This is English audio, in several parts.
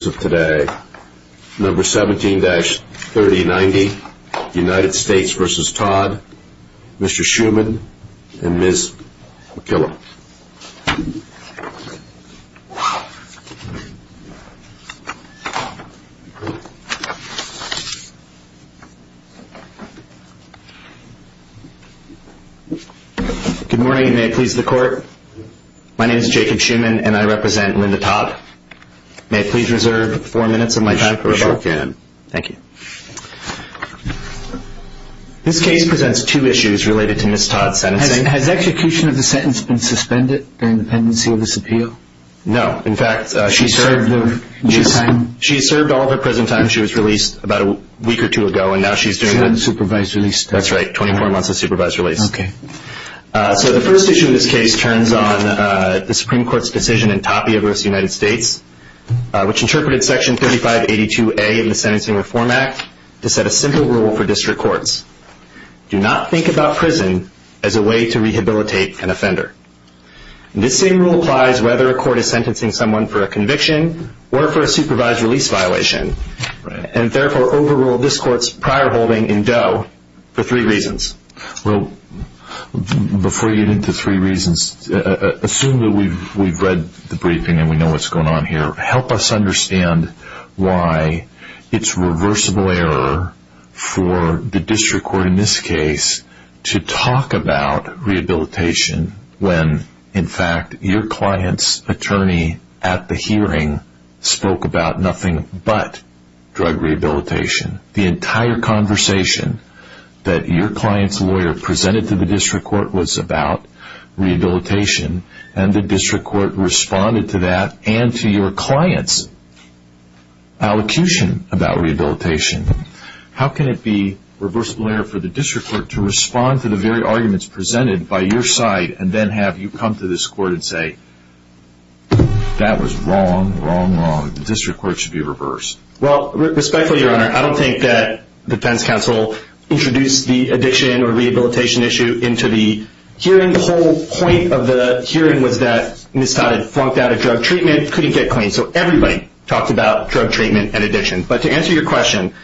Today, number 17-3090 United States v. Todd, Mr. Schuman, and Ms. McKillop. Good morning, and may it please the court. My name is Jacob Schuman, and I represent Linda Todd. May I please reserve four minutes of my time for rebuttal? Sure can. Thank you. This case presents two issues related to Ms. Todd's sentencing. Has execution of the sentence been suspended during the pendency of this appeal? No. In fact, she served all of her prison time. She was released about a week or two ago, and now she's doing a supervised release. That's right, 24 months of supervised release. Okay. So the first issue in this case turns on the Supreme Court's decision in Tapia v. United States, which interpreted Section 3582A of the Sentencing Reform Act to set a simple rule for district courts. Do not think about prison as a way to rehabilitate an offender. This same rule applies whether a court is sentencing someone for a conviction or for a supervised release violation, and therefore overruled this court's prior holding in Doe for three reasons. Well, before you get into three reasons, assume that we've read the briefing and we know what's going on here. Help us understand why it's reversible error for the district court in this case to talk about rehabilitation when, in fact, your client's attorney at the hearing spoke about nothing but drug rehabilitation. The entire conversation that your client's lawyer presented to the district court was about rehabilitation, and the district court responded to that and to your client's allocution about rehabilitation. How can it be reversible error for the district court to respond to the very arguments presented by your side and then have you come to this court and say, that was wrong, wrong, wrong. The district court should be reversed. Well, respectfully, Your Honor, I don't think that defense counsel introduced the addiction or rehabilitation issue into the hearing. The whole point of the hearing was that Ms. Todd had flunked out of drug treatment, couldn't get clean, so everybody talked about drug treatment and addiction. But to answer your question,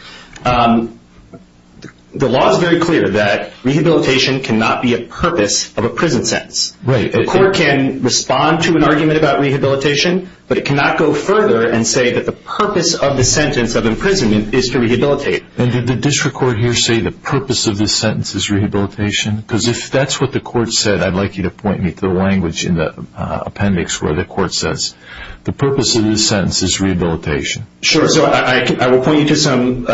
the law is very clear that rehabilitation cannot be a purpose of a prison sentence. Right. The court can respond to an argument about rehabilitation, but it cannot go further and say that the purpose of the sentence of imprisonment is to rehabilitate. And did the district court here say the purpose of this sentence is rehabilitation? Because if that's what the court said, I'd like you to point me to the language in the appendix where the court says, the purpose of this sentence is rehabilitation. Sure. So I will point you to some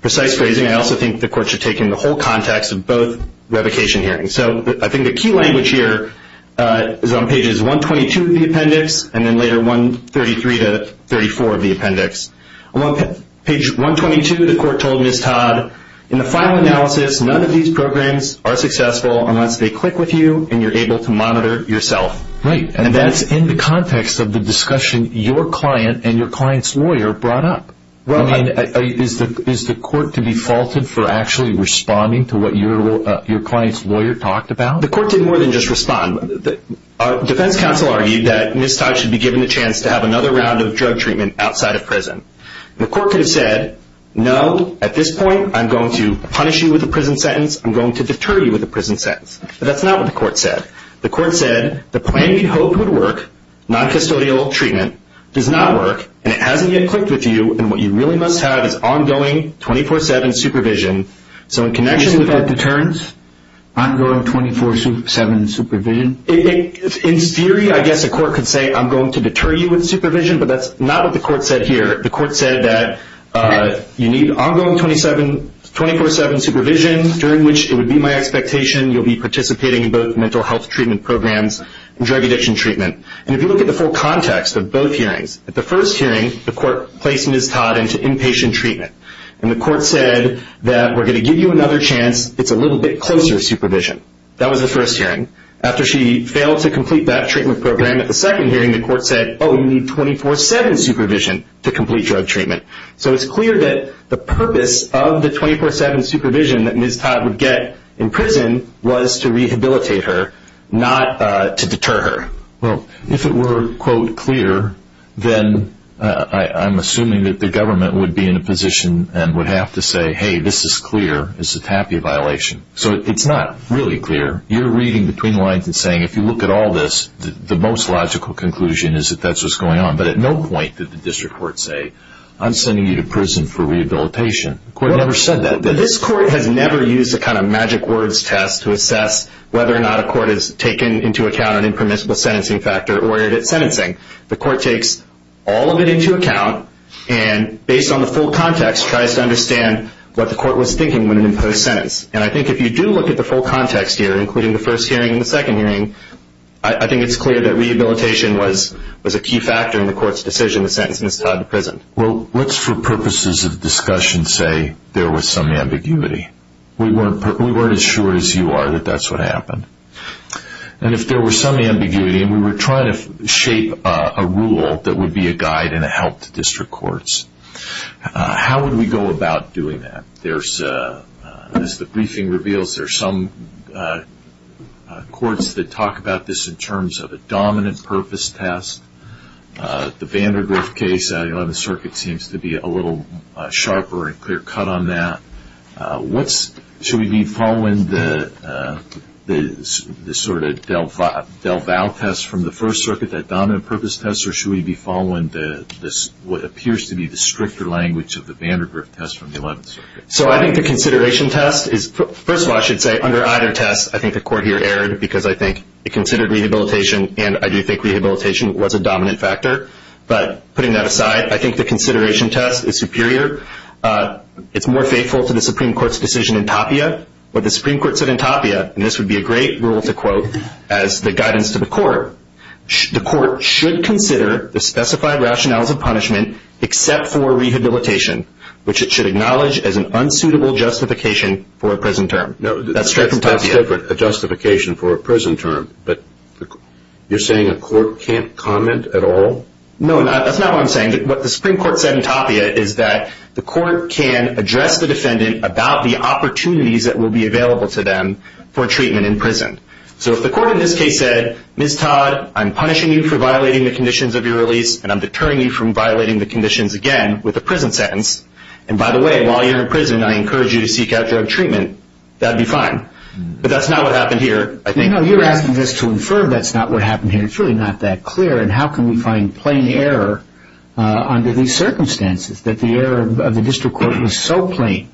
precise phrasing. I also think the court should take in the whole context of both revocation hearings. So I think the key language here is on pages 122 of the appendix and then later 133 to 34 of the appendix. On page 122, the court told Ms. Todd, in the final analysis, none of these programs are successful unless they click with you and you're able to monitor yourself. Right. And that's in the context of the discussion your client and your client's lawyer brought up. Is the court to be faulted for actually responding to what your client's lawyer talked about? The court did more than just respond. Defense counsel argued that Ms. Todd should be given the chance to have another round of drug treatment outside of prison. The court could have said, no, at this point I'm going to punish you with a prison sentence. I'm going to deter you with a prison sentence. But that's not what the court said. The court said the plan you hoped would work, noncustodial treatment, does not work, and it hasn't yet clicked with you, and what you really must have is ongoing 24-7 supervision. So in connection with that deterrence, ongoing 24-7 supervision. In theory, I guess a court could say I'm going to deter you with supervision, but that's not what the court said here. The court said that you need ongoing 24-7 supervision, during which it would be my expectation you'll be participating in both mental health treatment programs and drug addiction treatment. And if you look at the full context of both hearings, at the first hearing, the court placed Ms. Todd into inpatient treatment. And the court said that we're going to give you another chance. It's a little bit closer supervision. That was the first hearing. After she failed to complete that treatment program at the second hearing, the court said, oh, you need 24-7 supervision to complete drug treatment. So it's clear that the purpose of the 24-7 supervision that Ms. Todd would get in prison was to rehabilitate her, not to deter her. Well, if it were, quote, clear, then I'm assuming that the government would be in a position and would have to say, hey, this is clear. This is a TAPIA violation. So it's not really clear. You're reading between the lines and saying if you look at all this, the most logical conclusion is that that's what's going on. But at no point did the district court say, I'm sending you to prison for rehabilitation. The court never said that. This court has never used a kind of magic words test to assess whether or not a court has taken into account an impermissible sentencing factor or ordered it sentencing. The court takes all of it into account and, based on the full context, tries to understand what the court was thinking when it imposed the sentence. And I think if you do look at the full context here, including the first hearing and the second hearing, I think it's clear that rehabilitation was a key factor in the court's decision to sentence Ms. Todd to prison. Well, what's for purposes of discussion say there was some ambiguity? We weren't as sure as you are that that's what happened. And if there was some ambiguity and we were trying to shape a rule that would be a guide and a help to district courts, how would we go about doing that? As the briefing reveals, there are some courts that talk about this in terms of a dominant purpose test. The Vandergriff case on the 11th Circuit seems to be a little sharper and clear cut on that. Should we be following the sort of DelVal test from the 1st Circuit, that dominant purpose test, or should we be following what appears to be the stricter language of the Vandergriff test from the 11th Circuit? So I think the consideration test is, first of all, I should say, under either test, I think the court here erred because I think it considered rehabilitation and I do think rehabilitation was a dominant factor. But putting that aside, I think the consideration test is superior. It's more faithful to the Supreme Court's decision in Tapia. What the Supreme Court said in Tapia, and this would be a great rule to quote as the guidance to the court, the court should consider the specified rationales of punishment except for rehabilitation, which it should acknowledge as an unsuitable justification for a prison term. That's different, a justification for a prison term. But you're saying a court can't comment at all? No, that's not what I'm saying. What the Supreme Court said in Tapia is that the court can address the defendant about the opportunities that will be available to them for treatment in prison. So if the court in this case said, Ms. Todd, I'm punishing you for violating the conditions of your release and I'm deterring you from violating the conditions again with a prison sentence, and by the way, while you're in prison, I encourage you to seek out drug treatment, that would be fine. But that's not what happened here, I think. No, you're asking us to infer that's not what happened here. It's really not that clear. And how can we find plain error under these circumstances, that the error of the district court was so plain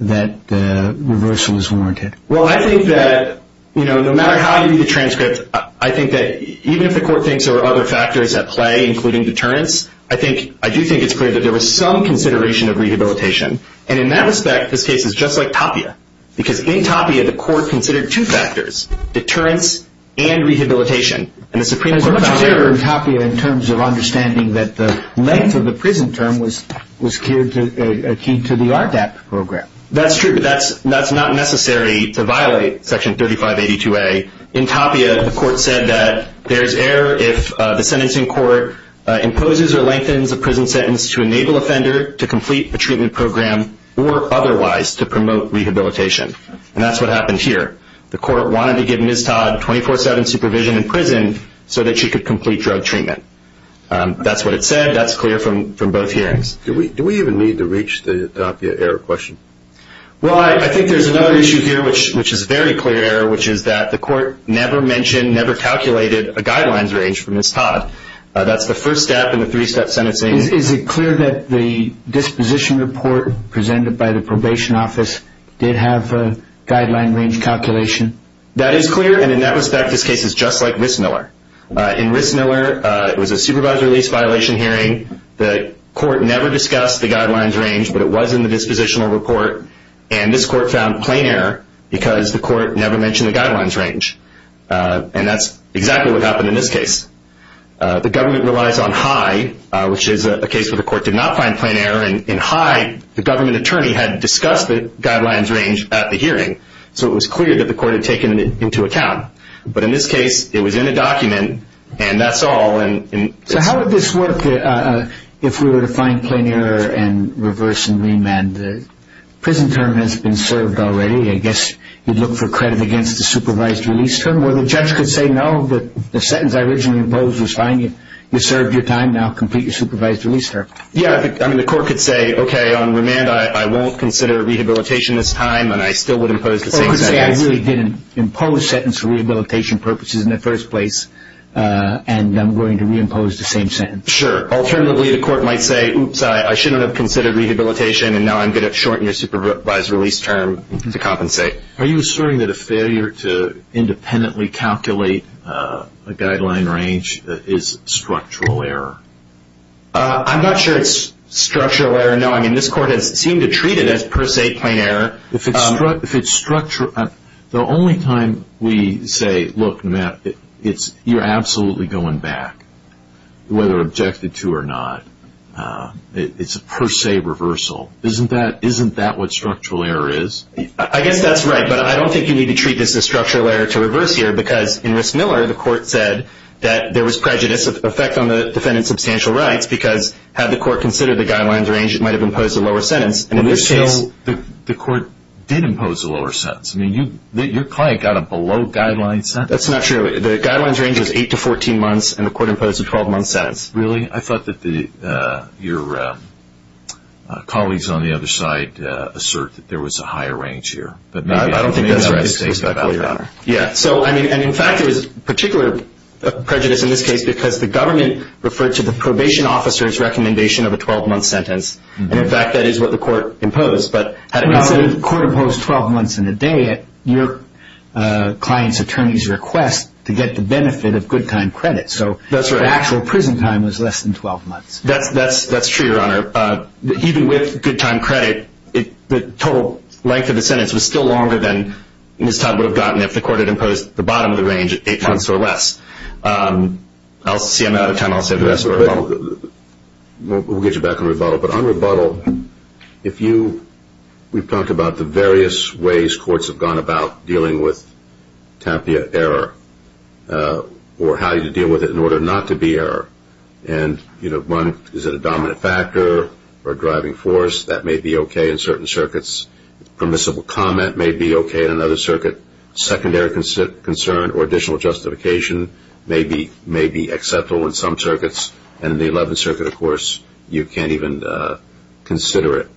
that the reversal is warranted? Well, I think that no matter how you read the transcript, I think that even if the court thinks there are other factors at play, including deterrence, I do think it's clear that there was some consideration of rehabilitation. And in that respect, this case is just like Tapia. Because in Tapia, the court considered two factors, deterrence and rehabilitation. And the Supreme Court found that... There's much error in Tapia in terms of understanding that the length of the prison term was key to the RDAP program. That's true, but that's not necessary to violate Section 3582A. In Tapia, the court said that there's error if the sentencing court imposes or lengthens a prison sentence to enable offender to complete a treatment program or otherwise to promote rehabilitation. And that's what happened here. The court wanted to give Ms. Todd 24-7 supervision in prison so that she could complete drug treatment. That's what it said. That's clear from both hearings. Do we even need to reach the Tapia error question? Well, I think there's another issue here which is very clear, which is that the court never mentioned, never calculated a guidelines range for Ms. Todd. That's the first step in the three-step sentencing. Is it clear that the disposition report presented by the probation office did have a guideline range calculation? That is clear, and in that respect, this case is just like Rissmiller. In Rissmiller, it was a supervisor release violation hearing. The court never discussed the guidelines range, but it was in the dispositional report. And this court found plain error because the court never mentioned the guidelines range. And that's exactly what happened in this case. The government relies on HIE, which is a case where the court did not find plain error. In HIE, the government attorney had discussed the guidelines range at the hearing, so it was clear that the court had taken it into account. But in this case, it was in a document, and that's all. So how would this work if we were to find plain error and reverse and remand? The prison term has been served already. I guess you'd look for credit against the supervised release term, where the judge could say, no, the sentence I originally imposed was fine. You served your time. Now complete your supervised release term. Yeah, I mean, the court could say, okay, on remand, I won't consider rehabilitation this time, and I still would impose the same sentence. Or it could say, I really didn't impose the sentence for rehabilitation purposes in the first place, and I'm going to reimpose the same sentence. Sure. Alternatively, the court might say, oops, I shouldn't have considered rehabilitation, and now I'm going to shorten your supervised release term to compensate. Are you asserting that a failure to independently calculate a guideline range is structural error? I'm not sure it's structural error. No, I mean, this court has seemed to treat it as per se plain error. If it's structural, the only time we say, look, Matt, you're absolutely going back, whether objected to or not, it's a per se reversal. Isn't that what structural error is? I guess that's right, but I don't think you need to treat this as structural error to reverse here, because in Rissmiller, the court said that there was prejudice, effect on the defendant's substantial rights, because had the court considered the guidelines range, it might have imposed a lower sentence. In Rissmiller, the court did impose a lower sentence. I mean, your client got a below-guideline sentence. That's not true. The guidelines range was 8 to 14 months, and the court imposed a 12-month sentence. Really? I thought that your colleagues on the other side assert that there was a higher range here. I don't think that's right, Your Honor. In fact, there was particular prejudice in this case, because the government referred to the probation officer's recommendation of a 12-month sentence, and, in fact, that is what the court imposed. But had it not been— But you said the court imposed 12 months and a day at your client's attorney's request to get the benefit of good-time credit. That's right. So the actual prison time was less than 12 months. That's true, Your Honor. Even with good-time credit, the total length of the sentence was still longer than Ms. Todd would have gotten if the court had imposed the bottom of the range at 8 months or less. I'm out of time. I'll save the rest for rebuttal. We'll get you back on rebuttal. But on rebuttal, we've talked about the various ways courts have gone about dealing with TAPIA error or how you deal with it in order not to be error. And is it a dominant factor or a driving force? That may be okay in certain circuits. Permissible comment may be okay in another circuit. Secondary concern or additional justification may be acceptable in some circuits. And in the Eleventh Circuit, of course, you can't even consider it.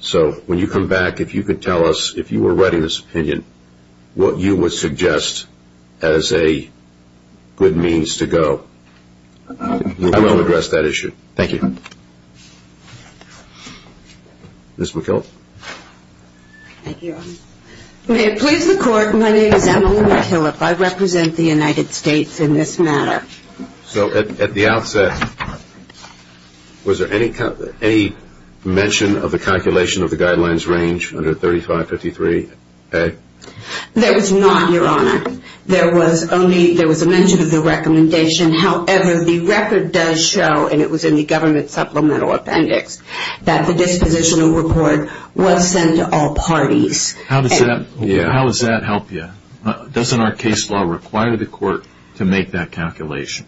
So when you come back, if you could tell us, if you were writing this opinion, what you would suggest as a good means to go. I will address that issue. Thank you. Ms. McKillop. Thank you, Your Honor. May it please the Court, my name is Emily McKillop. I represent the United States in this matter. So at the outset, was there any mention of the calculation of the guidelines range under 3553A? There was not, Your Honor. There was a mention of the recommendation. However, the record does show, and it was in the government supplemental appendix, that the dispositional report was sent to all parties. How does that help you? Doesn't our case law require the Court to make that calculation?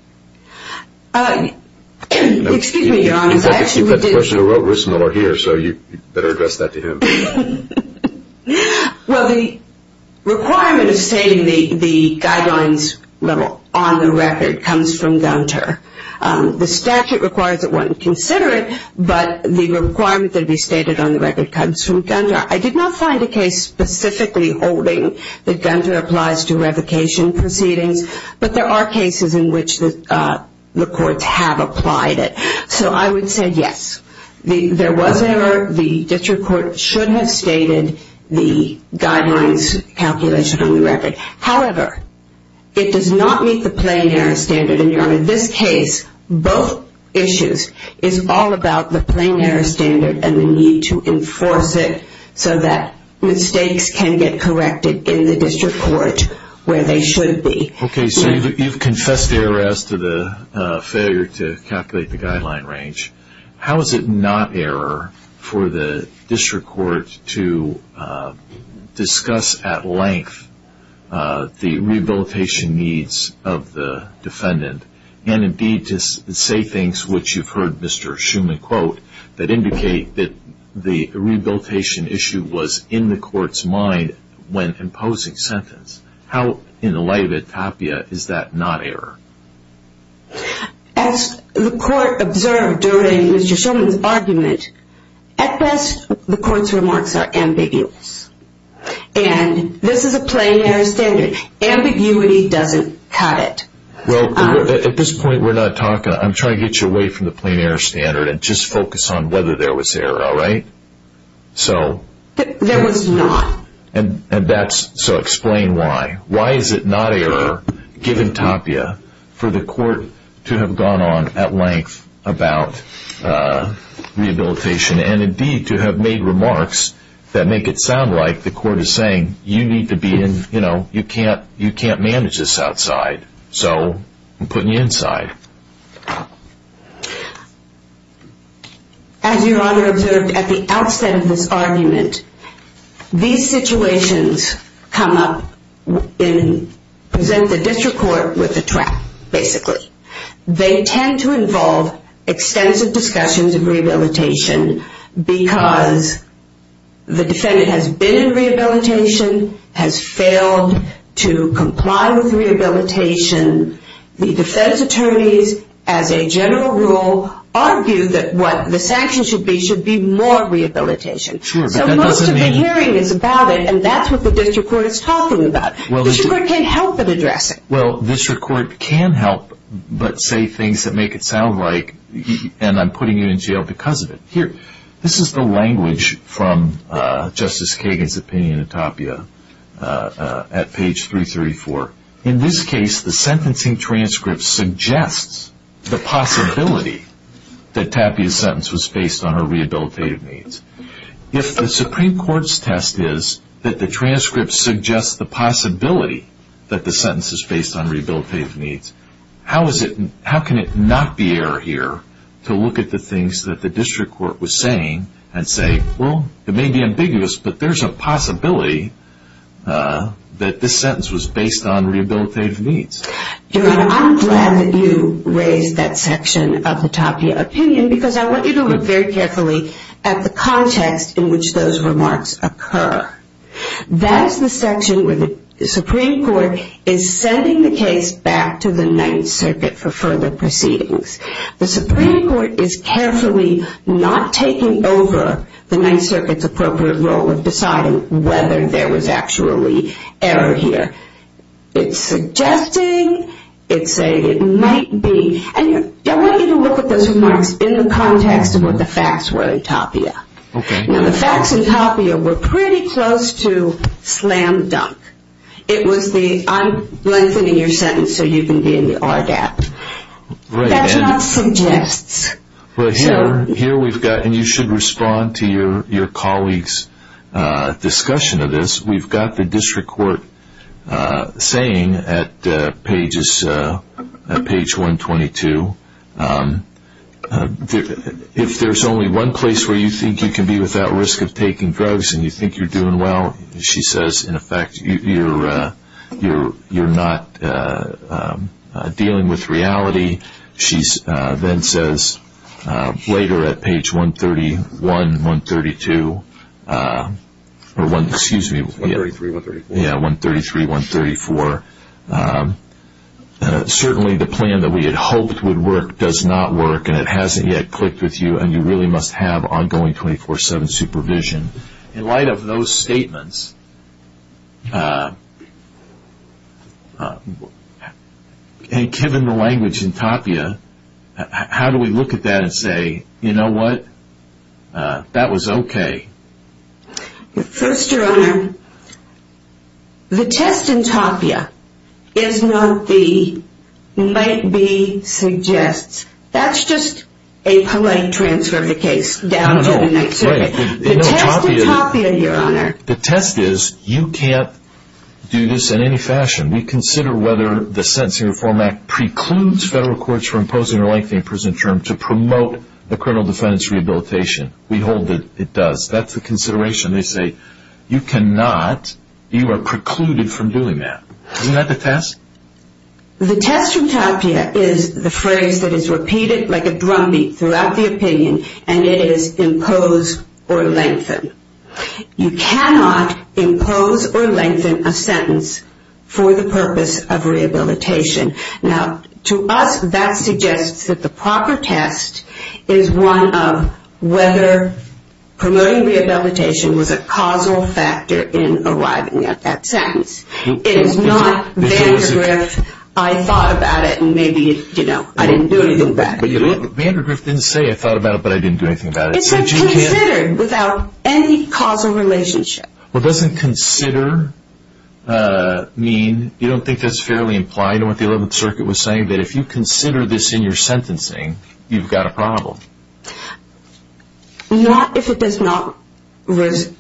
Excuse me, Your Honor. In fact, you've got the person who wrote it here, so you better address that to him. Well, the requirement of stating the guidelines level on the record comes from Gunter. The statute requires that one consider it, but the requirement that it be stated on the record comes from Gunter. I did not find a case specifically holding that Gunter applies to revocation proceedings, but there are cases in which the courts have applied it. So I would say yes, there was error. The district court should have stated the guidelines calculation on the record. However, it does not meet the plain error standard. In this case, both issues is all about the plain error standard and the need to enforce it so that mistakes can get corrected in the district court where they should be. Okay, so you've confessed error as to the failure to calculate the guideline range. How is it not error for the district court to discuss at length the rehabilitation needs of the defendant and, indeed, to say things which you've heard Mr. Schuman quote that indicate that the rehabilitation issue was in the court's mind when imposing sentence? How, in the light of it, Tapia, is that not error? As the court observed during Mr. Schuman's argument, at best, the court's remarks are ambiguous. And this is a plain error standard. Ambiguity doesn't cut it. Well, at this point, I'm trying to get you away from the plain error standard and just focus on whether there was error, all right? There was not. So explain why. Why is it not error, given Tapia, for the court to have gone on at length about rehabilitation and, indeed, to have made remarks that make it sound like the court is saying, you need to be in, you know, you can't manage this outside. So I'm putting you inside. As Your Honor observed at the outset of this argument, these situations come up and present the district court with a trap, basically. They tend to involve extensive discussions of rehabilitation because the defendant has been in rehabilitation, has failed to comply with rehabilitation. The defense attorneys, as a general rule, argue that what the sanctions should be should be more rehabilitation. So most of the hearing is about it, and that's what the district court is talking about. The district court can't help but address it. Well, the district court can help but say things that make it sound like, and I'm putting you in jail because of it. Here, this is the language from Justice Kagan's opinion of Tapia at page 334. In this case, the sentencing transcript suggests the possibility that Tapia's sentence was based on her rehabilitative needs. If the Supreme Court's test is that the transcript suggests the possibility that the sentence is based on rehabilitative needs, how can it not be error here to look at the things that the district court was saying and say, well, it may be ambiguous, but there's a possibility that this sentence was based on rehabilitative needs? Your Honor, I'm glad that you raised that section of the Tapia opinion because I want you to look very carefully at the context in which those remarks occur. That is the section where the Supreme Court is sending the case back to the Ninth Circuit for further proceedings. The Supreme Court is carefully not taking over the Ninth Circuit's appropriate role of deciding whether there was actually error here. It's suggesting. It's saying it might be. I want you to look at those remarks in the context of what the facts were in Tapia. The facts in Tapia were pretty close to slam dunk. I'm lengthening your sentence so you can be in the RGAP. That's not suggests. Here we've got, and you should respond to your colleague's discussion of this, we've got the district court saying at page 122, if there's only one place where you think you can be without risk of taking drugs and you think you're doing well, she says, in effect, you're not dealing with reality. She then says later at page 133-134, certainly the plan that we had hoped would work does not work and it hasn't yet clicked with you and you really must have ongoing 24-7 supervision. In light of those statements, and given the language in Tapia, how do we look at that and say, you know what? That was okay. First, Your Honor, the test in Tapia is not the might be suggests. That's just a polite transfer of the case down to the Ninth Circuit. The test in Tapia, Your Honor. The test is you can't do this in any fashion. We consider whether the Sentencing Reform Act precludes federal courts from imposing or lengthening prison terms to promote the criminal defendant's rehabilitation. We hold that it does. That's the consideration. They say, you cannot, you are precluded from doing that. Isn't that the test? The test from Tapia is the phrase that is repeated like a drumbeat throughout the opinion and it is impose or lengthen. You cannot impose or lengthen a sentence for the purpose of rehabilitation. Now, to us, that suggests that the proper test is one of whether promoting rehabilitation was a causal factor in arriving at that sentence. It is not Vandergrift, I thought about it and maybe, you know, I didn't do anything bad. Vandergrift didn't say, I thought about it, but I didn't do anything bad. It said considered without any causal relationship. Well, doesn't consider mean, you don't think that's fairly implied in what the Eleventh Circuit was saying, that if you consider this in your sentencing, you've got a problem? Not if it does not relate.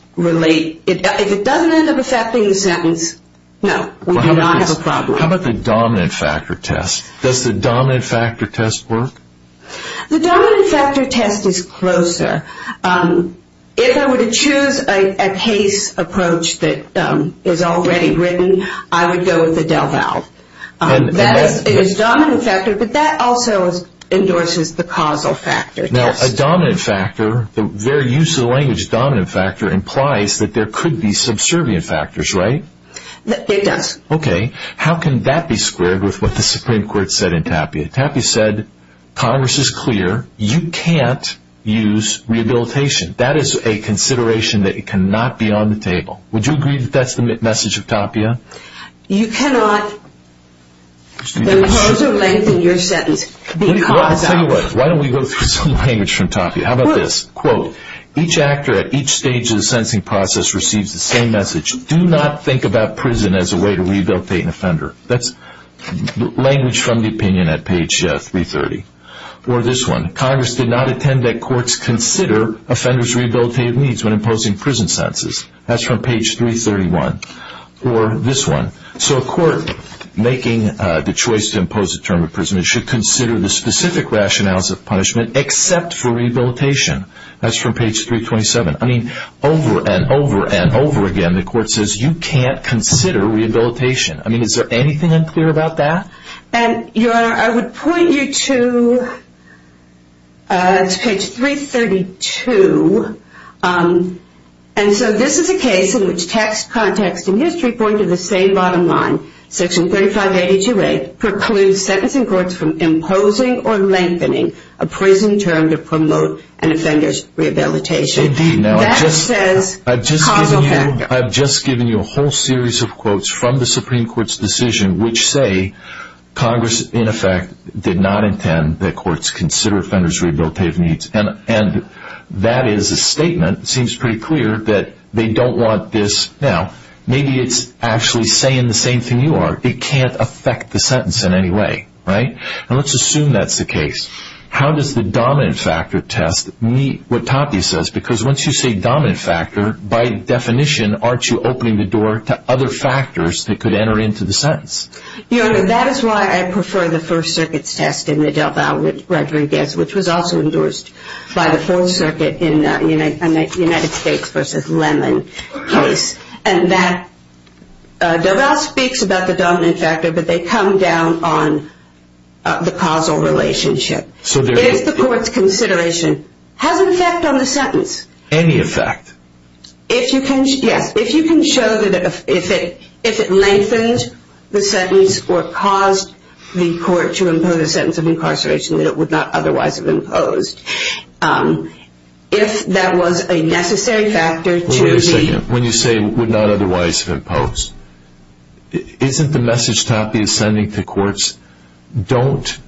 If it doesn't end up affecting the sentence, no, we do not have a problem. How about the dominant factor test? Does the dominant factor test work? The dominant factor test is closer. If I were to choose a case approach that is already written, I would go with the DelVal. That is a dominant factor, but that also endorses the causal factor test. Now, a dominant factor, the very use of the language dominant factor, implies that there could be subservient factors, right? It does. Okay, how can that be squared with what the Supreme Court said in Tapia? Tapia said, Congress is clear. You can't use rehabilitation. That is a consideration that cannot be on the table. Would you agree that that's the message of Tapia? You cannot. Those terms of length in your sentence, because of. Let me tell you what. Why don't we go through some language from Tapia? How about this? Quote, each actor at each stage of the sentencing process receives the same message. Do not think about prison as a way to rehabilitate an offender. That's language from the opinion at page 330. Or this one. Congress did not intend that courts consider offenders' rehabilitative needs when imposing prison sentences. That's from page 331. Or this one. So a court making the choice to impose a term of imprisonment should consider the specific rationales of punishment except for rehabilitation. That's from page 327. I mean, over and over and over again, the court says you can't consider rehabilitation. I mean, is there anything unclear about that? Your Honor, I would point you to page 332. And so this is a case in which text, context, and history point to the same bottom line. Section 3582A precludes sentencing courts from imposing or lengthening a prison term to promote an offender's rehabilitation. That says causal factor. I've just given you a whole series of quotes from the Supreme Court's decision which say Congress, in effect, did not intend that courts consider offenders' rehabilitative needs. And that is a statement. It seems pretty clear that they don't want this. Now, maybe it's actually saying the same thing you are. It can't affect the sentence in any way. And let's assume that's the case. How does the dominant factor test meet what Tati says? Because once you say dominant factor, by definition, aren't you opening the door to other factors that could enter into the sentence? Your Honor, that is why I prefer the First Circuit's test in the DelVal-Rodriguez, which was also endorsed by the full circuit in the United States v. Lemon case. DelVal speaks about the dominant factor, but they come down on the causal relationship. If the court's consideration has an effect on the sentence... Any effect. Yes, if you can show that if it lengthens the sentence or caused the court to impose a sentence of incarceration that it would not otherwise have imposed. If that was a necessary factor to the... When you say would not otherwise have imposed, isn't the message Tati is sending to courts, don't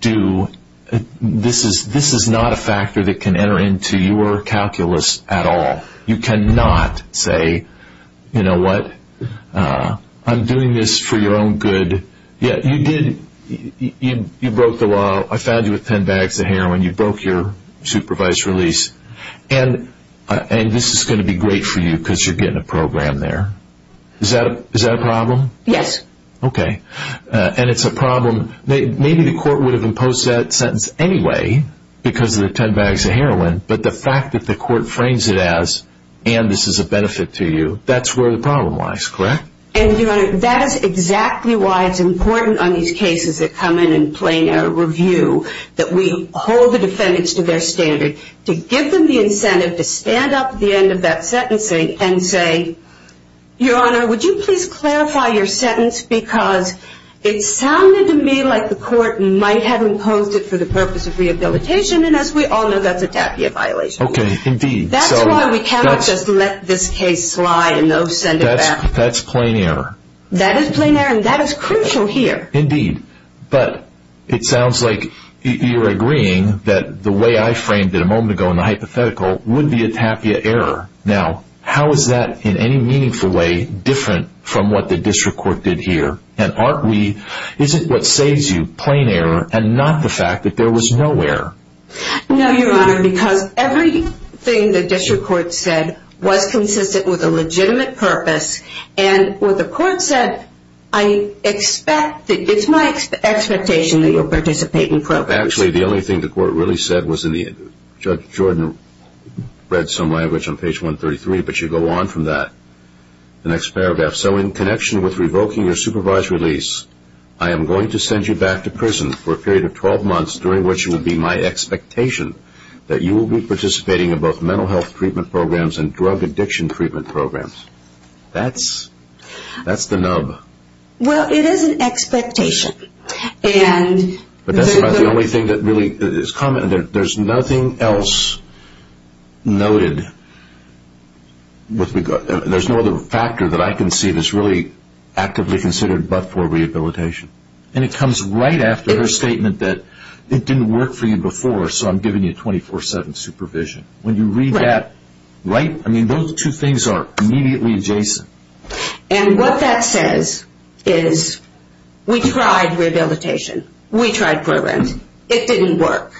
do...this is not a factor that can enter into your calculus at all. You cannot say, you know what, I'm doing this for your own good. You did...you broke the law. I found you with ten bags of heroin. You broke your supervised release. And this is going to be great for you because you're getting a program there. Is that a problem? Yes. Okay. And it's a problem. Maybe the court would have imposed that sentence anyway because of the ten bags of heroin, but the fact that the court frames it as, and this is a benefit to you, that's where the problem lies, correct? And, Your Honor, that is exactly why it's important on these cases that come in and play in our review that we hold the defendants to their standard to give them the incentive to stand up at the end of that sentencing and say, Your Honor, would you please clarify your sentence because it sounded to me like the court might have imposed it for the purpose of rehabilitation, and as we all know, that's a Tatia violation. Okay. Indeed. That's why we cannot just let this case slide and send it back. That's plain error. That is plain error, and that is crucial here. Indeed. But it sounds like you're agreeing that the way I framed it a moment ago in the hypothetical would be a Tatia error. Now, how is that in any meaningful way different from what the district court did here? And aren't we, is it what saves you, plain error and not the fact that there was no error? No, Your Honor, because everything the district court said was consistent with a legitimate purpose, and what the court said, I expect, it's my expectation that you'll participate in programs. Actually, the only thing the court really said was in the, Judge Jordan read some language on page 133, but you go on from that, the next paragraph. So in connection with revoking your supervised release, I am going to send you back to prison for a period of 12 months, during which it will be my expectation that you will be participating in both mental health treatment programs and drug addiction treatment programs. That's the nub. Well, it is an expectation. But that's about the only thing that really is common. There's nothing else noted. There's no other factor that I can see that's really actively considered but for rehabilitation. And it comes right after her statement that it didn't work for you before, so I'm giving you 24-7 supervision. When you read that, right? I mean, those two things are immediately adjacent. And what that says is we tried rehabilitation. We tried programs. It didn't work.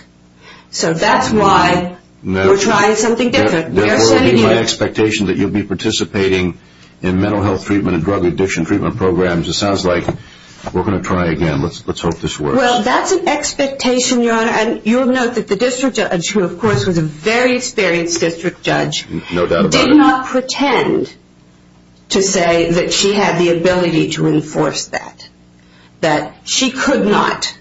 So that's why we're trying something different. Therefore, it will be my expectation that you'll be participating in mental health treatment and drug addiction treatment programs. It sounds like we're going to try again. Let's hope this works. Well, that's an expectation, Your Honor, and you'll note that the district judge, who, of course, was a very experienced district judge, did not pretend to say that she had the ability to enforce that, that she couldn't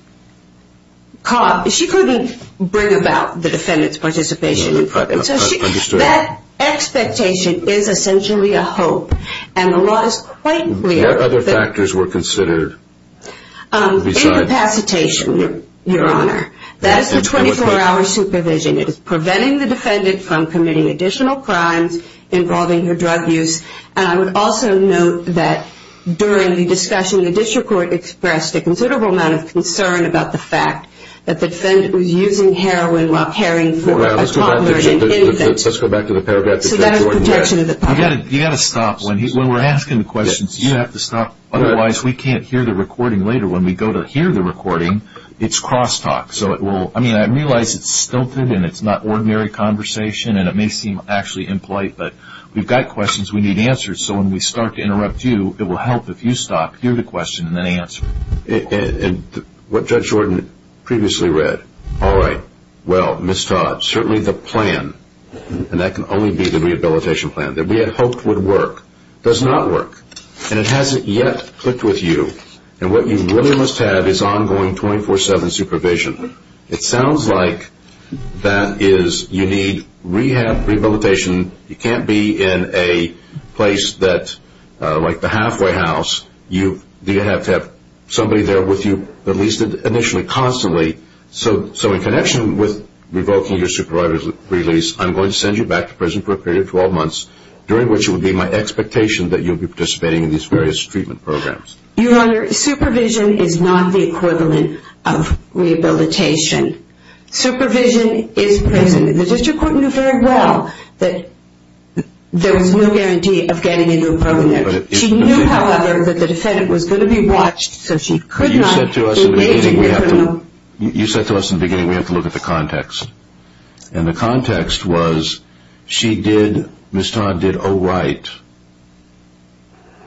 bring about the defendant's participation in programs. That expectation is essentially a hope, and the law is quite clear. What other factors were considered? Incapacitation, Your Honor. That is the 24-hour supervision. It is preventing the defendant from committing additional crimes involving her drug use. And I would also note that during the discussion, the district court expressed a considerable amount of concern about the fact that the defendant was using heroin while caring for a toddler and infant. Let's go back to the paragraph that Judge Orton read. You've got to stop. When we're asking the questions, you have to stop. Otherwise, we can't hear the recording later. When we go to hear the recording, it's cross-talk. I realize it's stilted and it's not ordinary conversation, and it may seem actually impolite, but we've got questions, we need answers. So when we start to interrupt you, it will help if you stop, hear the question, and then answer. And what Judge Orton previously read. All right, well, Ms. Todd, certainly the plan, and that can only be the rehabilitation plan, that we had hoped would work, does not work. And it hasn't yet clicked with you. And what you really must have is ongoing 24-7 supervision. It sounds like that is you need rehab, rehabilitation. You can't be in a place like the halfway house. You have to have somebody there with you at least initially constantly. So in connection with revoking your supervisor's release, I'm going to send you back to prison for a period of 12 months, during which it will be my expectation that you'll be participating in these various treatment programs. Your Honor, supervision is not the equivalent of rehabilitation. Supervision is present. The district court knew very well that there was no guarantee of getting into a program. She knew, however, that the defendant was going to be watched, so she could not engage in criminal. You said to us in the beginning we have to look at the context. And the context was she did, Ms. Todd did all right,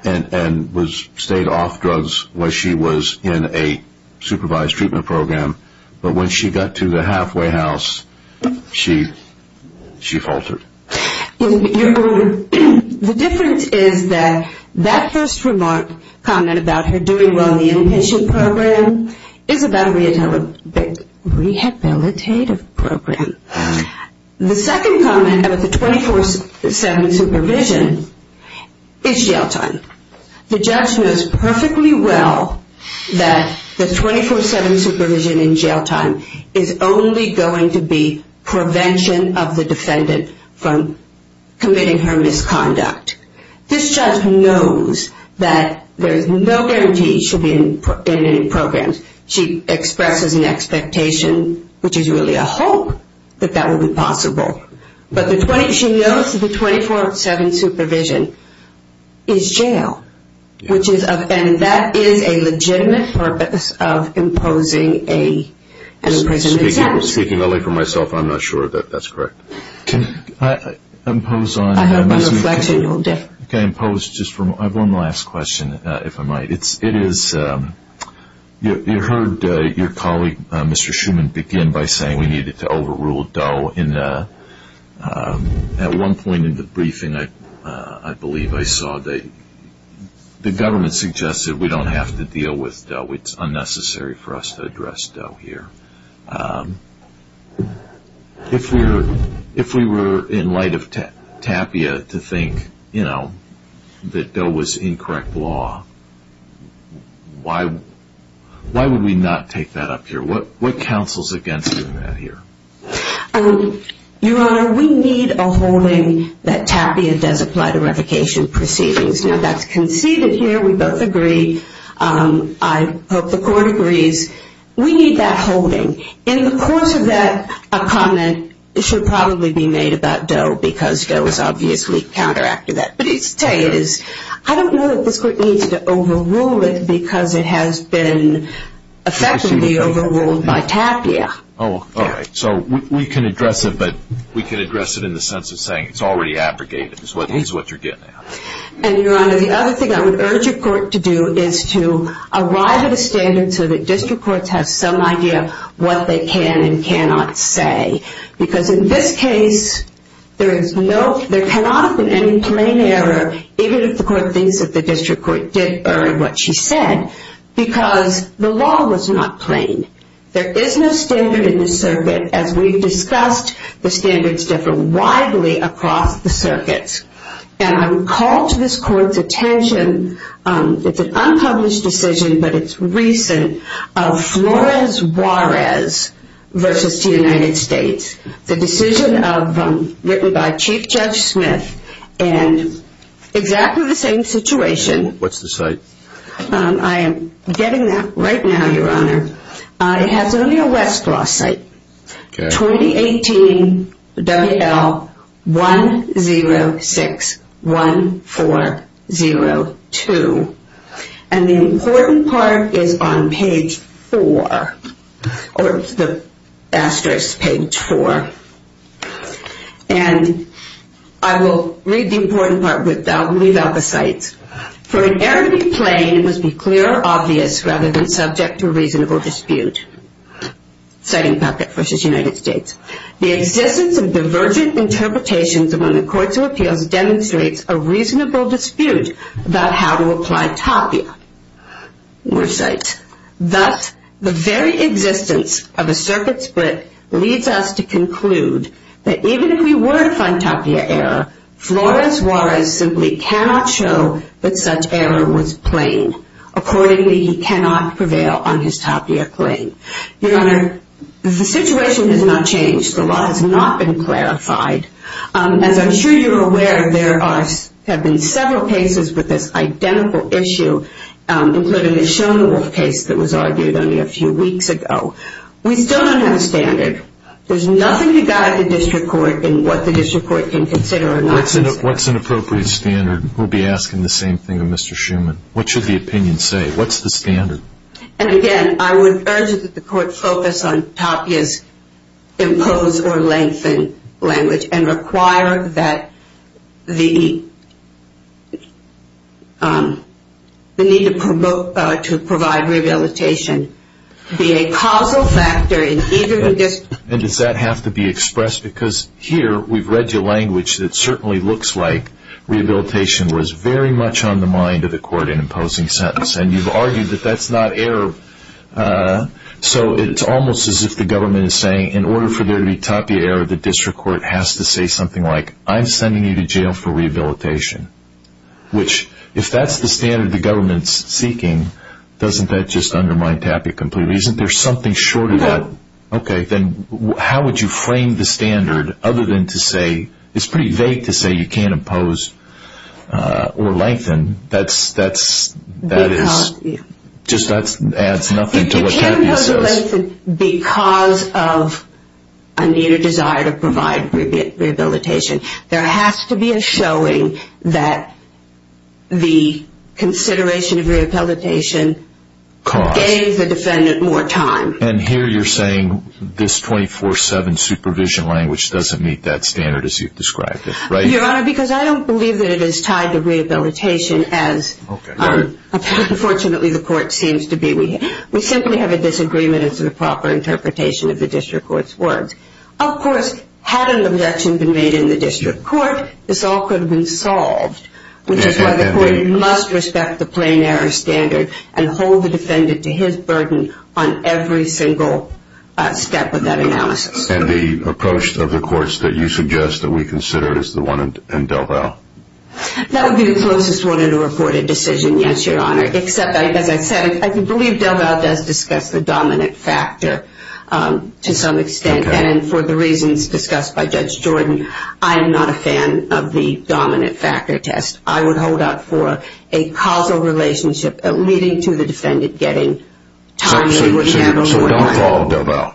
and stayed off drugs while she was in a supervised treatment program. But when she got to the halfway house, she faltered. Your Honor, the difference is that that first remark, comment about her doing well in the inpatient program, is about a rehabilitative program. The second comment about the 24-7 supervision is jail time. The judge knows perfectly well that the 24-7 supervision in jail time is only going to be prevention of the defendant from committing her misconduct. This judge knows that there is no guarantee she'll be in any programs. She expresses an expectation, which is really a hope, that that will be possible. But she knows that the 24-7 supervision is jail, and that is a legitimate purpose of imposing an imprisonment sentence. Speaking only for myself, I'm not sure that that's correct. Can I impose on Ms. Meehan? Can I impose just one last question, if I might? It is, you heard your colleague, Mr. Shuman, begin by saying we needed to overrule Doe. At one point in the briefing, I believe I saw, the government suggested we don't have to deal with Doe. It's unnecessary for us to address Doe here. If we were in light of TAPIA to think that Doe was incorrect law, why would we not take that up here? What counsels against doing that here? Your Honor, we need a holding that TAPIA does apply to revocation proceedings. Now, that's conceded here. We both agree. I hope the court agrees. We need that holding. In the course of that comment, it should probably be made about Doe, because Doe is obviously counteractive to that. But I don't know that this court needs to overrule it because it has been effectively overruled by TAPIA. All right. So we can address it, but we can address it in the sense of saying it's already abrogated, is what you're getting at. And, Your Honor, the other thing I would urge your court to do is to arrive at a standard so that district courts have some idea what they can and cannot say. Because in this case, there cannot have been any plain error, even if the court thinks that the district court did err in what she said, because the law was not plain. There is no standard in this circuit. As we've discussed, the standards differ widely across the circuits. And I would call to this court's attention, it's an unpublished decision, but it's recent, of Flores-Juarez v. United States, the decision written by Chief Judge Smith in exactly the same situation. What's the site? I am getting that right now, Your Honor. It has only a Westlaw site. 2018 W.L. 106-1402. And the important part is on page 4. Or it's the asterisk page 4. And I will read the important part without the sites. For an error to be plain, it must be clear or obvious rather than subject to reasonable dispute. Citing Puckett v. United States, the existence of divergent interpretations among the courts of appeals demonstrates a reasonable dispute about how to apply tapia. More sites. Thus, the very existence of a circuit split leads us to conclude that even if we were to find tapia error, Flores-Juarez simply cannot show that such error was plain. Accordingly, he cannot prevail on his tapia claim. Your Honor, the situation has not changed. The law has not been clarified. As I'm sure you're aware, there have been several cases with this identical issue, including the Shonewolf case that was argued only a few weeks ago. We still don't have a standard. There's nothing to guide the district court in what the district court can consider or not consider. What's an appropriate standard? We'll be asking the same thing of Mr. Shuman. What should the opinion say? What's the standard? And again, I would urge that the court focus on tapia's impose or lengthen language and require that the need to provide rehabilitation be a causal factor in either dispute. And does that have to be expressed? Because here we've read your language that certainly looks like rehabilitation was very much on the mind of the court in imposing sentence. And you've argued that that's not error. So it's almost as if the government is saying in order for there to be tapia error, the district court has to say something like, I'm sending you to jail for rehabilitation, which if that's the standard the government's seeking, doesn't that just undermine tapia completely? Isn't there something short of that? Okay. Then how would you frame the standard other than to say, it's pretty vague to say you can't impose or lengthen. That just adds nothing to what tapia says. You can't impose or lengthen because of a needed desire to provide rehabilitation. There has to be a showing that the consideration of rehabilitation gave the defendant more time. And here you're saying this 24-7 supervision language doesn't meet that standard as you've described it, right? Your Honor, because I don't believe that it is tied to rehabilitation as fortunately the court seems to be. We simply have a disagreement as to the proper interpretation of the district court's words. Of course, had an objection been made in the district court, this all could have been solved, which is why the court must respect the plain error standard and hold the defendant to his burden on every single step of that analysis. And the approach of the courts that you suggest that we consider is the one in DelVal? That would be the closest one in a reported decision, yes, Your Honor. Except, as I said, I believe DelVal does discuss the dominant factor to some extent. And for the reasons discussed by Judge Jordan, I am not a fan of the dominant factor test. I would hold out for a causal relationship leading to the defendant getting time to be able to handle what he wants. So don't follow DelVal?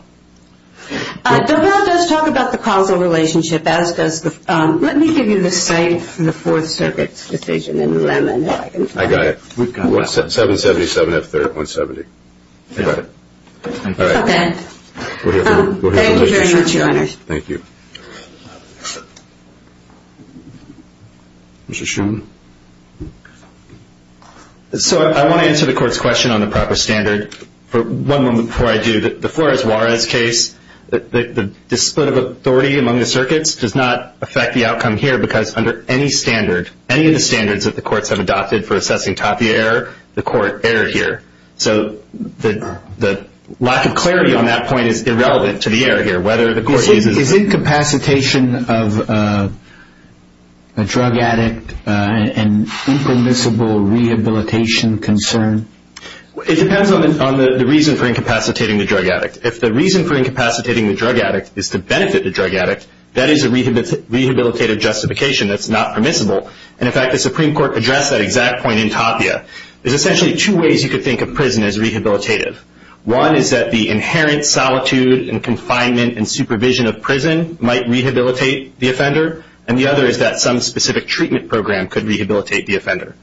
DelVal does talk about the causal relationship. Let me give you the same from the Fourth Circuit's decision in Lemon. I got it. We've got it. 777F3rd, 170. I got it. All right. Thank you very much, Your Honor. Thank you. Mr. Sheehan. So I want to answer the court's question on the proper standard for one moment before I do. The Flores-Juarez case, the split of authority among the circuits does not affect the outcome here because under any standard, any of the standards that the courts have adopted for assessing Tapia error, the court erred here. So the lack of clarity on that point is irrelevant to the error here, whether the court uses it. Is incapacitation of a drug addict an impermissible rehabilitation concern? It depends on the reason for incapacitating the drug addict. If the reason for incapacitating the drug addict is to benefit the drug addict, that is a rehabilitative justification that's not permissible. And, in fact, the Supreme Court addressed that exact point in Tapia. There's essentially two ways you could think of prison as rehabilitative. One is that the inherent solitude and confinement and supervision of prison might rehabilitate the offender, and the other is that some specific treatment program could rehabilitate the offender.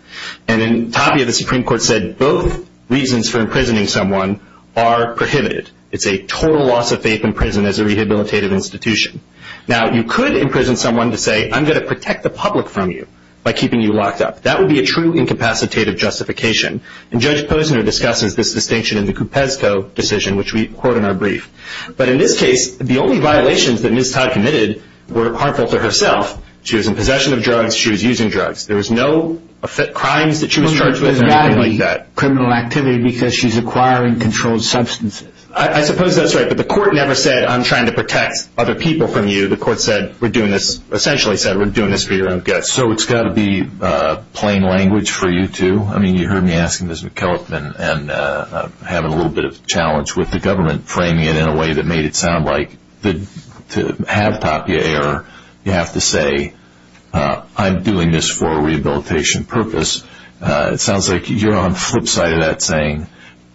And in Tapia, the Supreme Court said both reasons for imprisoning someone are prohibited. It's a total loss of faith in prison as a rehabilitative institution. Now, you could imprison someone to say, I'm going to protect the public from you by keeping you locked up. That would be a true incapacitative justification. And Judge Posner discusses this distinction in the Kupesko decision, which we quote in our brief. But in this case, the only violations that Ms. Todd committed were harmful to herself. She was in possession of drugs. She was using drugs. There was no crimes that she was charged with or anything like that. Criminal activity because she's acquiring controlled substances. I suppose that's right, but the court never said, I'm trying to protect other people from you. The court said, we're doing this, essentially said, we're doing this for your own good. So it's got to be plain language for you, too? I mean, you heard me asking Ms. McKellip and having a little bit of a challenge with the government framing it in a way that made it sound like to have Tapia error, you have to say, I'm doing this for a rehabilitation purpose. It sounds like you're on the flip side of that saying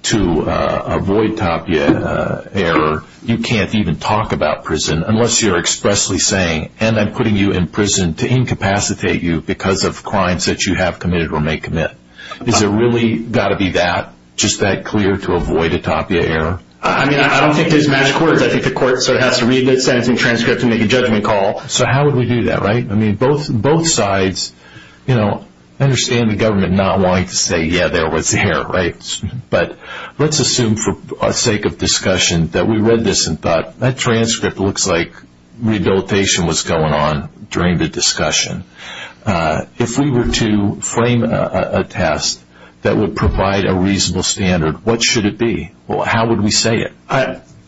to avoid Tapia error, you can't even talk about prison unless you're expressly saying, and I'm putting you in prison to incapacitate you because of crimes that you have committed or may commit. Is it really got to be that, just that clear to avoid a Tapia error? I mean, I don't think there's magic words. I think the court sort of has to read the sentencing transcript and make a judgment call. So how would we do that, right? I mean, both sides, you know, understand the government not wanting to say, yeah, there was error, right? But let's assume for sake of discussion that we read this and thought, that transcript looks like rehabilitation was going on during the discussion. If we were to frame a test that would provide a reasonable standard, what should it be? How would we say it?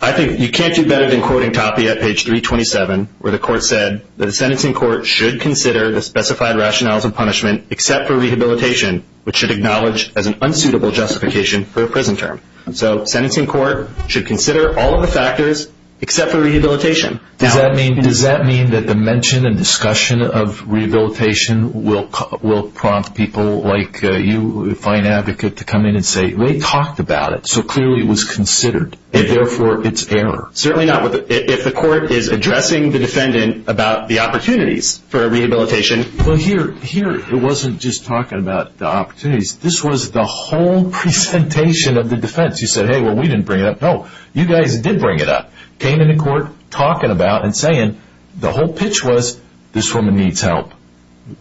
I think you can't do better than quoting Tapia at page 327 where the court said, the sentencing court should consider the specified rationales of punishment except for rehabilitation, which should acknowledge as an unsuitable justification for a prison term. So sentencing court should consider all of the factors except for rehabilitation. Does that mean that the mention and discussion of rehabilitation will prompt people like you, a fine advocate, to come in and say, we talked about it, so clearly it was considered, and therefore it's error? Certainly not. If the court is addressing the defendant about the opportunities for a rehabilitation. Well, here it wasn't just talking about the opportunities. This was the whole presentation of the defense. You said, hey, well, we didn't bring it up. No, you guys did bring it up. Came into court talking about and saying, the whole pitch was, this woman needs help.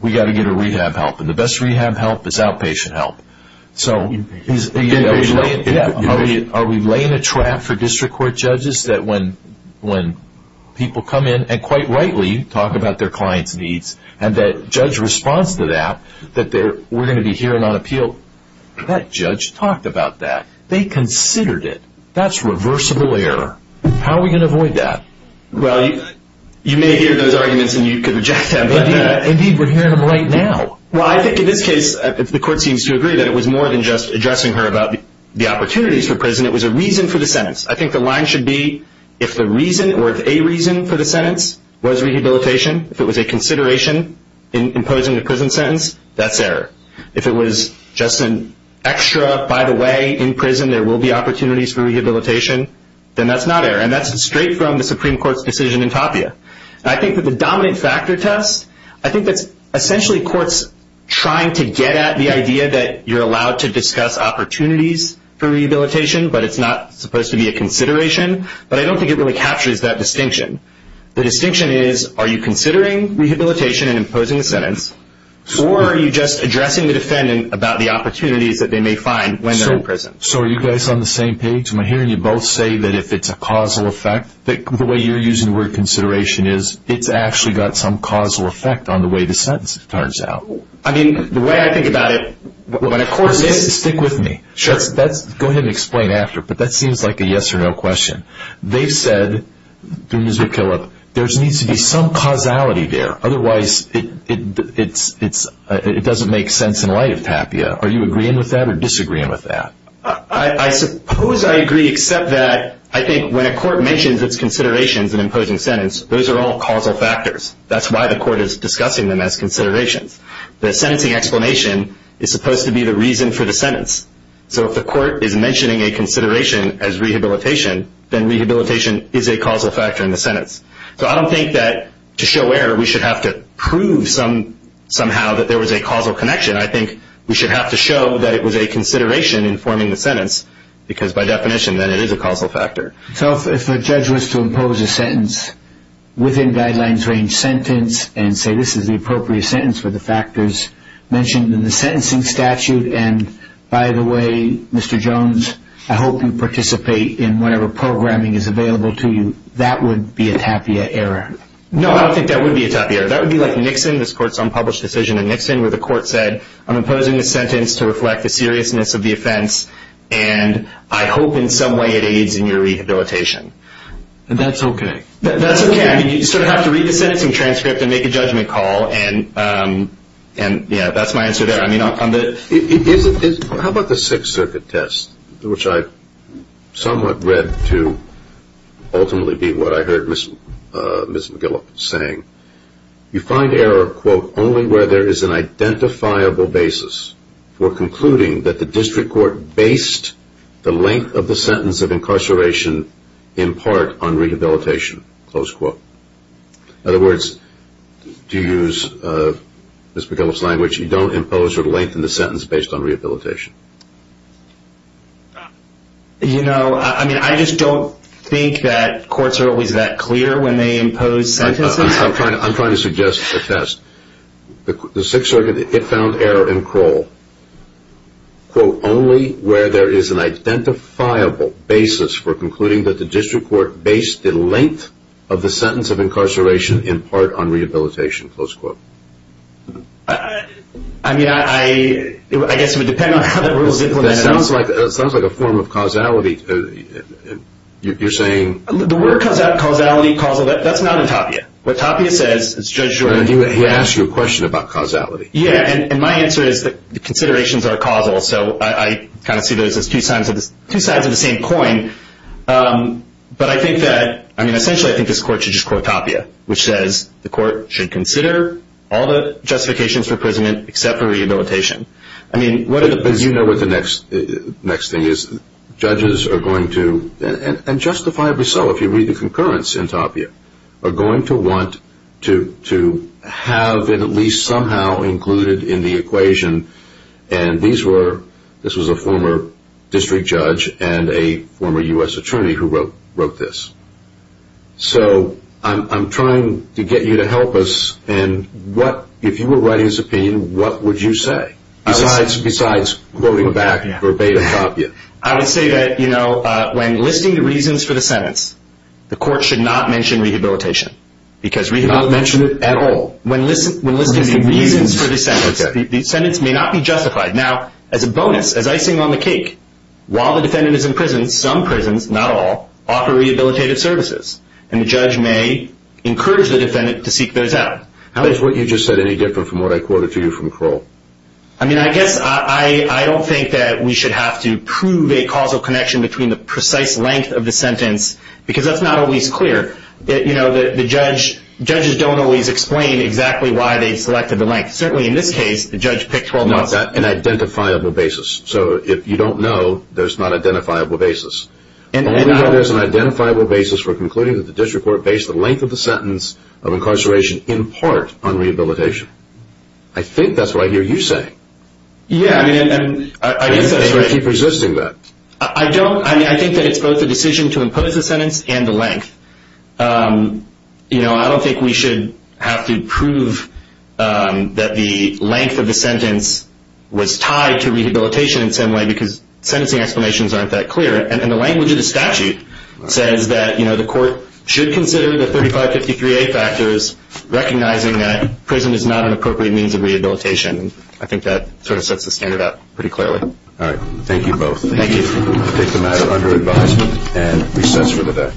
We've got to get her rehab help. And the best rehab help is outpatient help. So are we laying a trap for district court judges that when people come in and, quite rightly, talk about their client's needs and that judge responds to that, that we're going to be hearing on appeal, that judge talked about that. They considered it. That's reversible error. How are we going to avoid that? Well, you may hear those arguments and you could reject them. Indeed, we're hearing them right now. Well, I think in this case, if the court seems to agree that it was more than just addressing her about the opportunities for prison, it was a reason for the sentence. I think the line should be, if the reason or if a reason for the sentence was rehabilitation, if it was a consideration in imposing a prison sentence, that's error. If it was just an extra, by the way, in prison there will be opportunities for rehabilitation, then that's not error. And that's straight from the Supreme Court's decision in Tapia. I think that the dominant factor test, I think that's essentially courts trying to get at the idea that you're allowed to discuss the opportunities for rehabilitation, but it's not supposed to be a consideration. But I don't think it really captures that distinction. The distinction is, are you considering rehabilitation and imposing a sentence, or are you just addressing the defendant about the opportunities that they may find when they're in prison? So are you guys on the same page? I'm hearing you both say that if it's a causal effect, the way you're using the word consideration is, it's actually got some causal effect on the way the sentence turns out. I mean, the way I think about it, when a court says- Stick with me. Sure. Go ahead and explain after, but that seems like a yes or no question. They've said, through Ms. McKillop, there needs to be some causality there. Otherwise, it doesn't make sense in light of Tapia. Are you agreeing with that or disagreeing with that? I suppose I agree, except that I think when a court mentions its considerations in imposing a sentence, those are all causal factors. That's why the court is discussing them as considerations. The sentencing explanation is supposed to be the reason for the sentence. So if the court is mentioning a consideration as rehabilitation, then rehabilitation is a causal factor in the sentence. So I don't think that to show error, we should have to prove somehow that there was a causal connection. I think we should have to show that it was a consideration in forming the sentence, because by definition, then it is a causal factor. So if a judge was to impose a sentence within guidelines range sentence and say this is the appropriate sentence for the factors mentioned in the sentencing statute, and by the way, Mr. Jones, I hope you participate in whatever programming is available to you, that would be a Tapia error. No, I don't think that would be a Tapia error. That would be like Nixon, this court's unpublished decision in Nixon, where the court said, I'm imposing a sentence to reflect the seriousness of the offense, and I hope in some way it aids in your rehabilitation. That's okay. That's okay. I mean, you sort of have to read the sentencing transcript and make a judgment call, and, yeah, that's my answer there. How about the Sixth Circuit test, which I somewhat read to ultimately be what I heard Ms. McGillop saying? You find error, quote, only where there is an identifiable basis for concluding that the district court based the length of the sentence of incarceration in part on rehabilitation, close quote. In other words, to use Ms. McGillop's language, you don't impose or lengthen the sentence based on rehabilitation. You know, I mean, I just don't think that courts are always that clear when they impose sentences. I'm trying to suggest a test. The Sixth Circuit, it found error in Kroll, quote, only where there is an identifiable basis for concluding that the district court based the length of the sentence of incarceration in part on rehabilitation, close quote. I mean, I guess it would depend on how the rule is implemented. It sounds like a form of causality. You're saying? The word causality, causal, that's not in Tapia. What Tapia says is Judge Jordan. He asked you a question about causality. Yeah, and my answer is that the considerations are causal, so I kind of see those as two sides of the same coin. But I think that, I mean, essentially I think this court should just quote Tapia, which says the court should consider all the justifications for imprisonment except for rehabilitation. I mean, what are the basic... But you know what the next thing is. Judges are going to, and justifiably so if you read the concurrence in Tapia, are going to want to have it at least somehow included in the equation, and this was a former district judge and a former U.S. attorney who wrote this. So I'm trying to get you to help us, and if you were writing this opinion, what would you say? Besides quoting back verbatim Tapia. I would say that when listing the reasons for the sentence, the court should not mention rehabilitation. Not mention it at all? When listing the reasons for the sentence. The sentence may not be justified. Now, as a bonus, as icing on the cake, while the defendant is in prison, some prisons, not all, offer rehabilitative services, and the judge may encourage the defendant to seek those out. Is what you just said any different from what I quoted to you from Kroll? I mean, I guess I don't think that we should have to prove a causal connection between the precise length of the sentence, because that's not always clear. The judges don't always explain exactly why they selected the length. Certainly in this case, the judge picked 12 months. Not an identifiable basis. So if you don't know, there's not an identifiable basis. All we know is there's an identifiable basis for concluding that the district court based the length of the sentence of incarceration in part on rehabilitation. I think that's what I hear you say. Yeah, I mean, and I guess that's why I keep resisting that. I don't. I mean, I think that it's both a decision to impose the sentence and the length. You know, I don't think we should have to prove that the length of the sentence was tied to rehabilitation in some way, because sentencing explanations aren't that clear. And the language of the statute says that, you know, the court should consider the 3553A factors, recognizing that prison is not an appropriate means of rehabilitation. I think that sort of sets the standard out pretty clearly. All right. Thank you both. Thank you. I take the matter under advisement and recess for the day.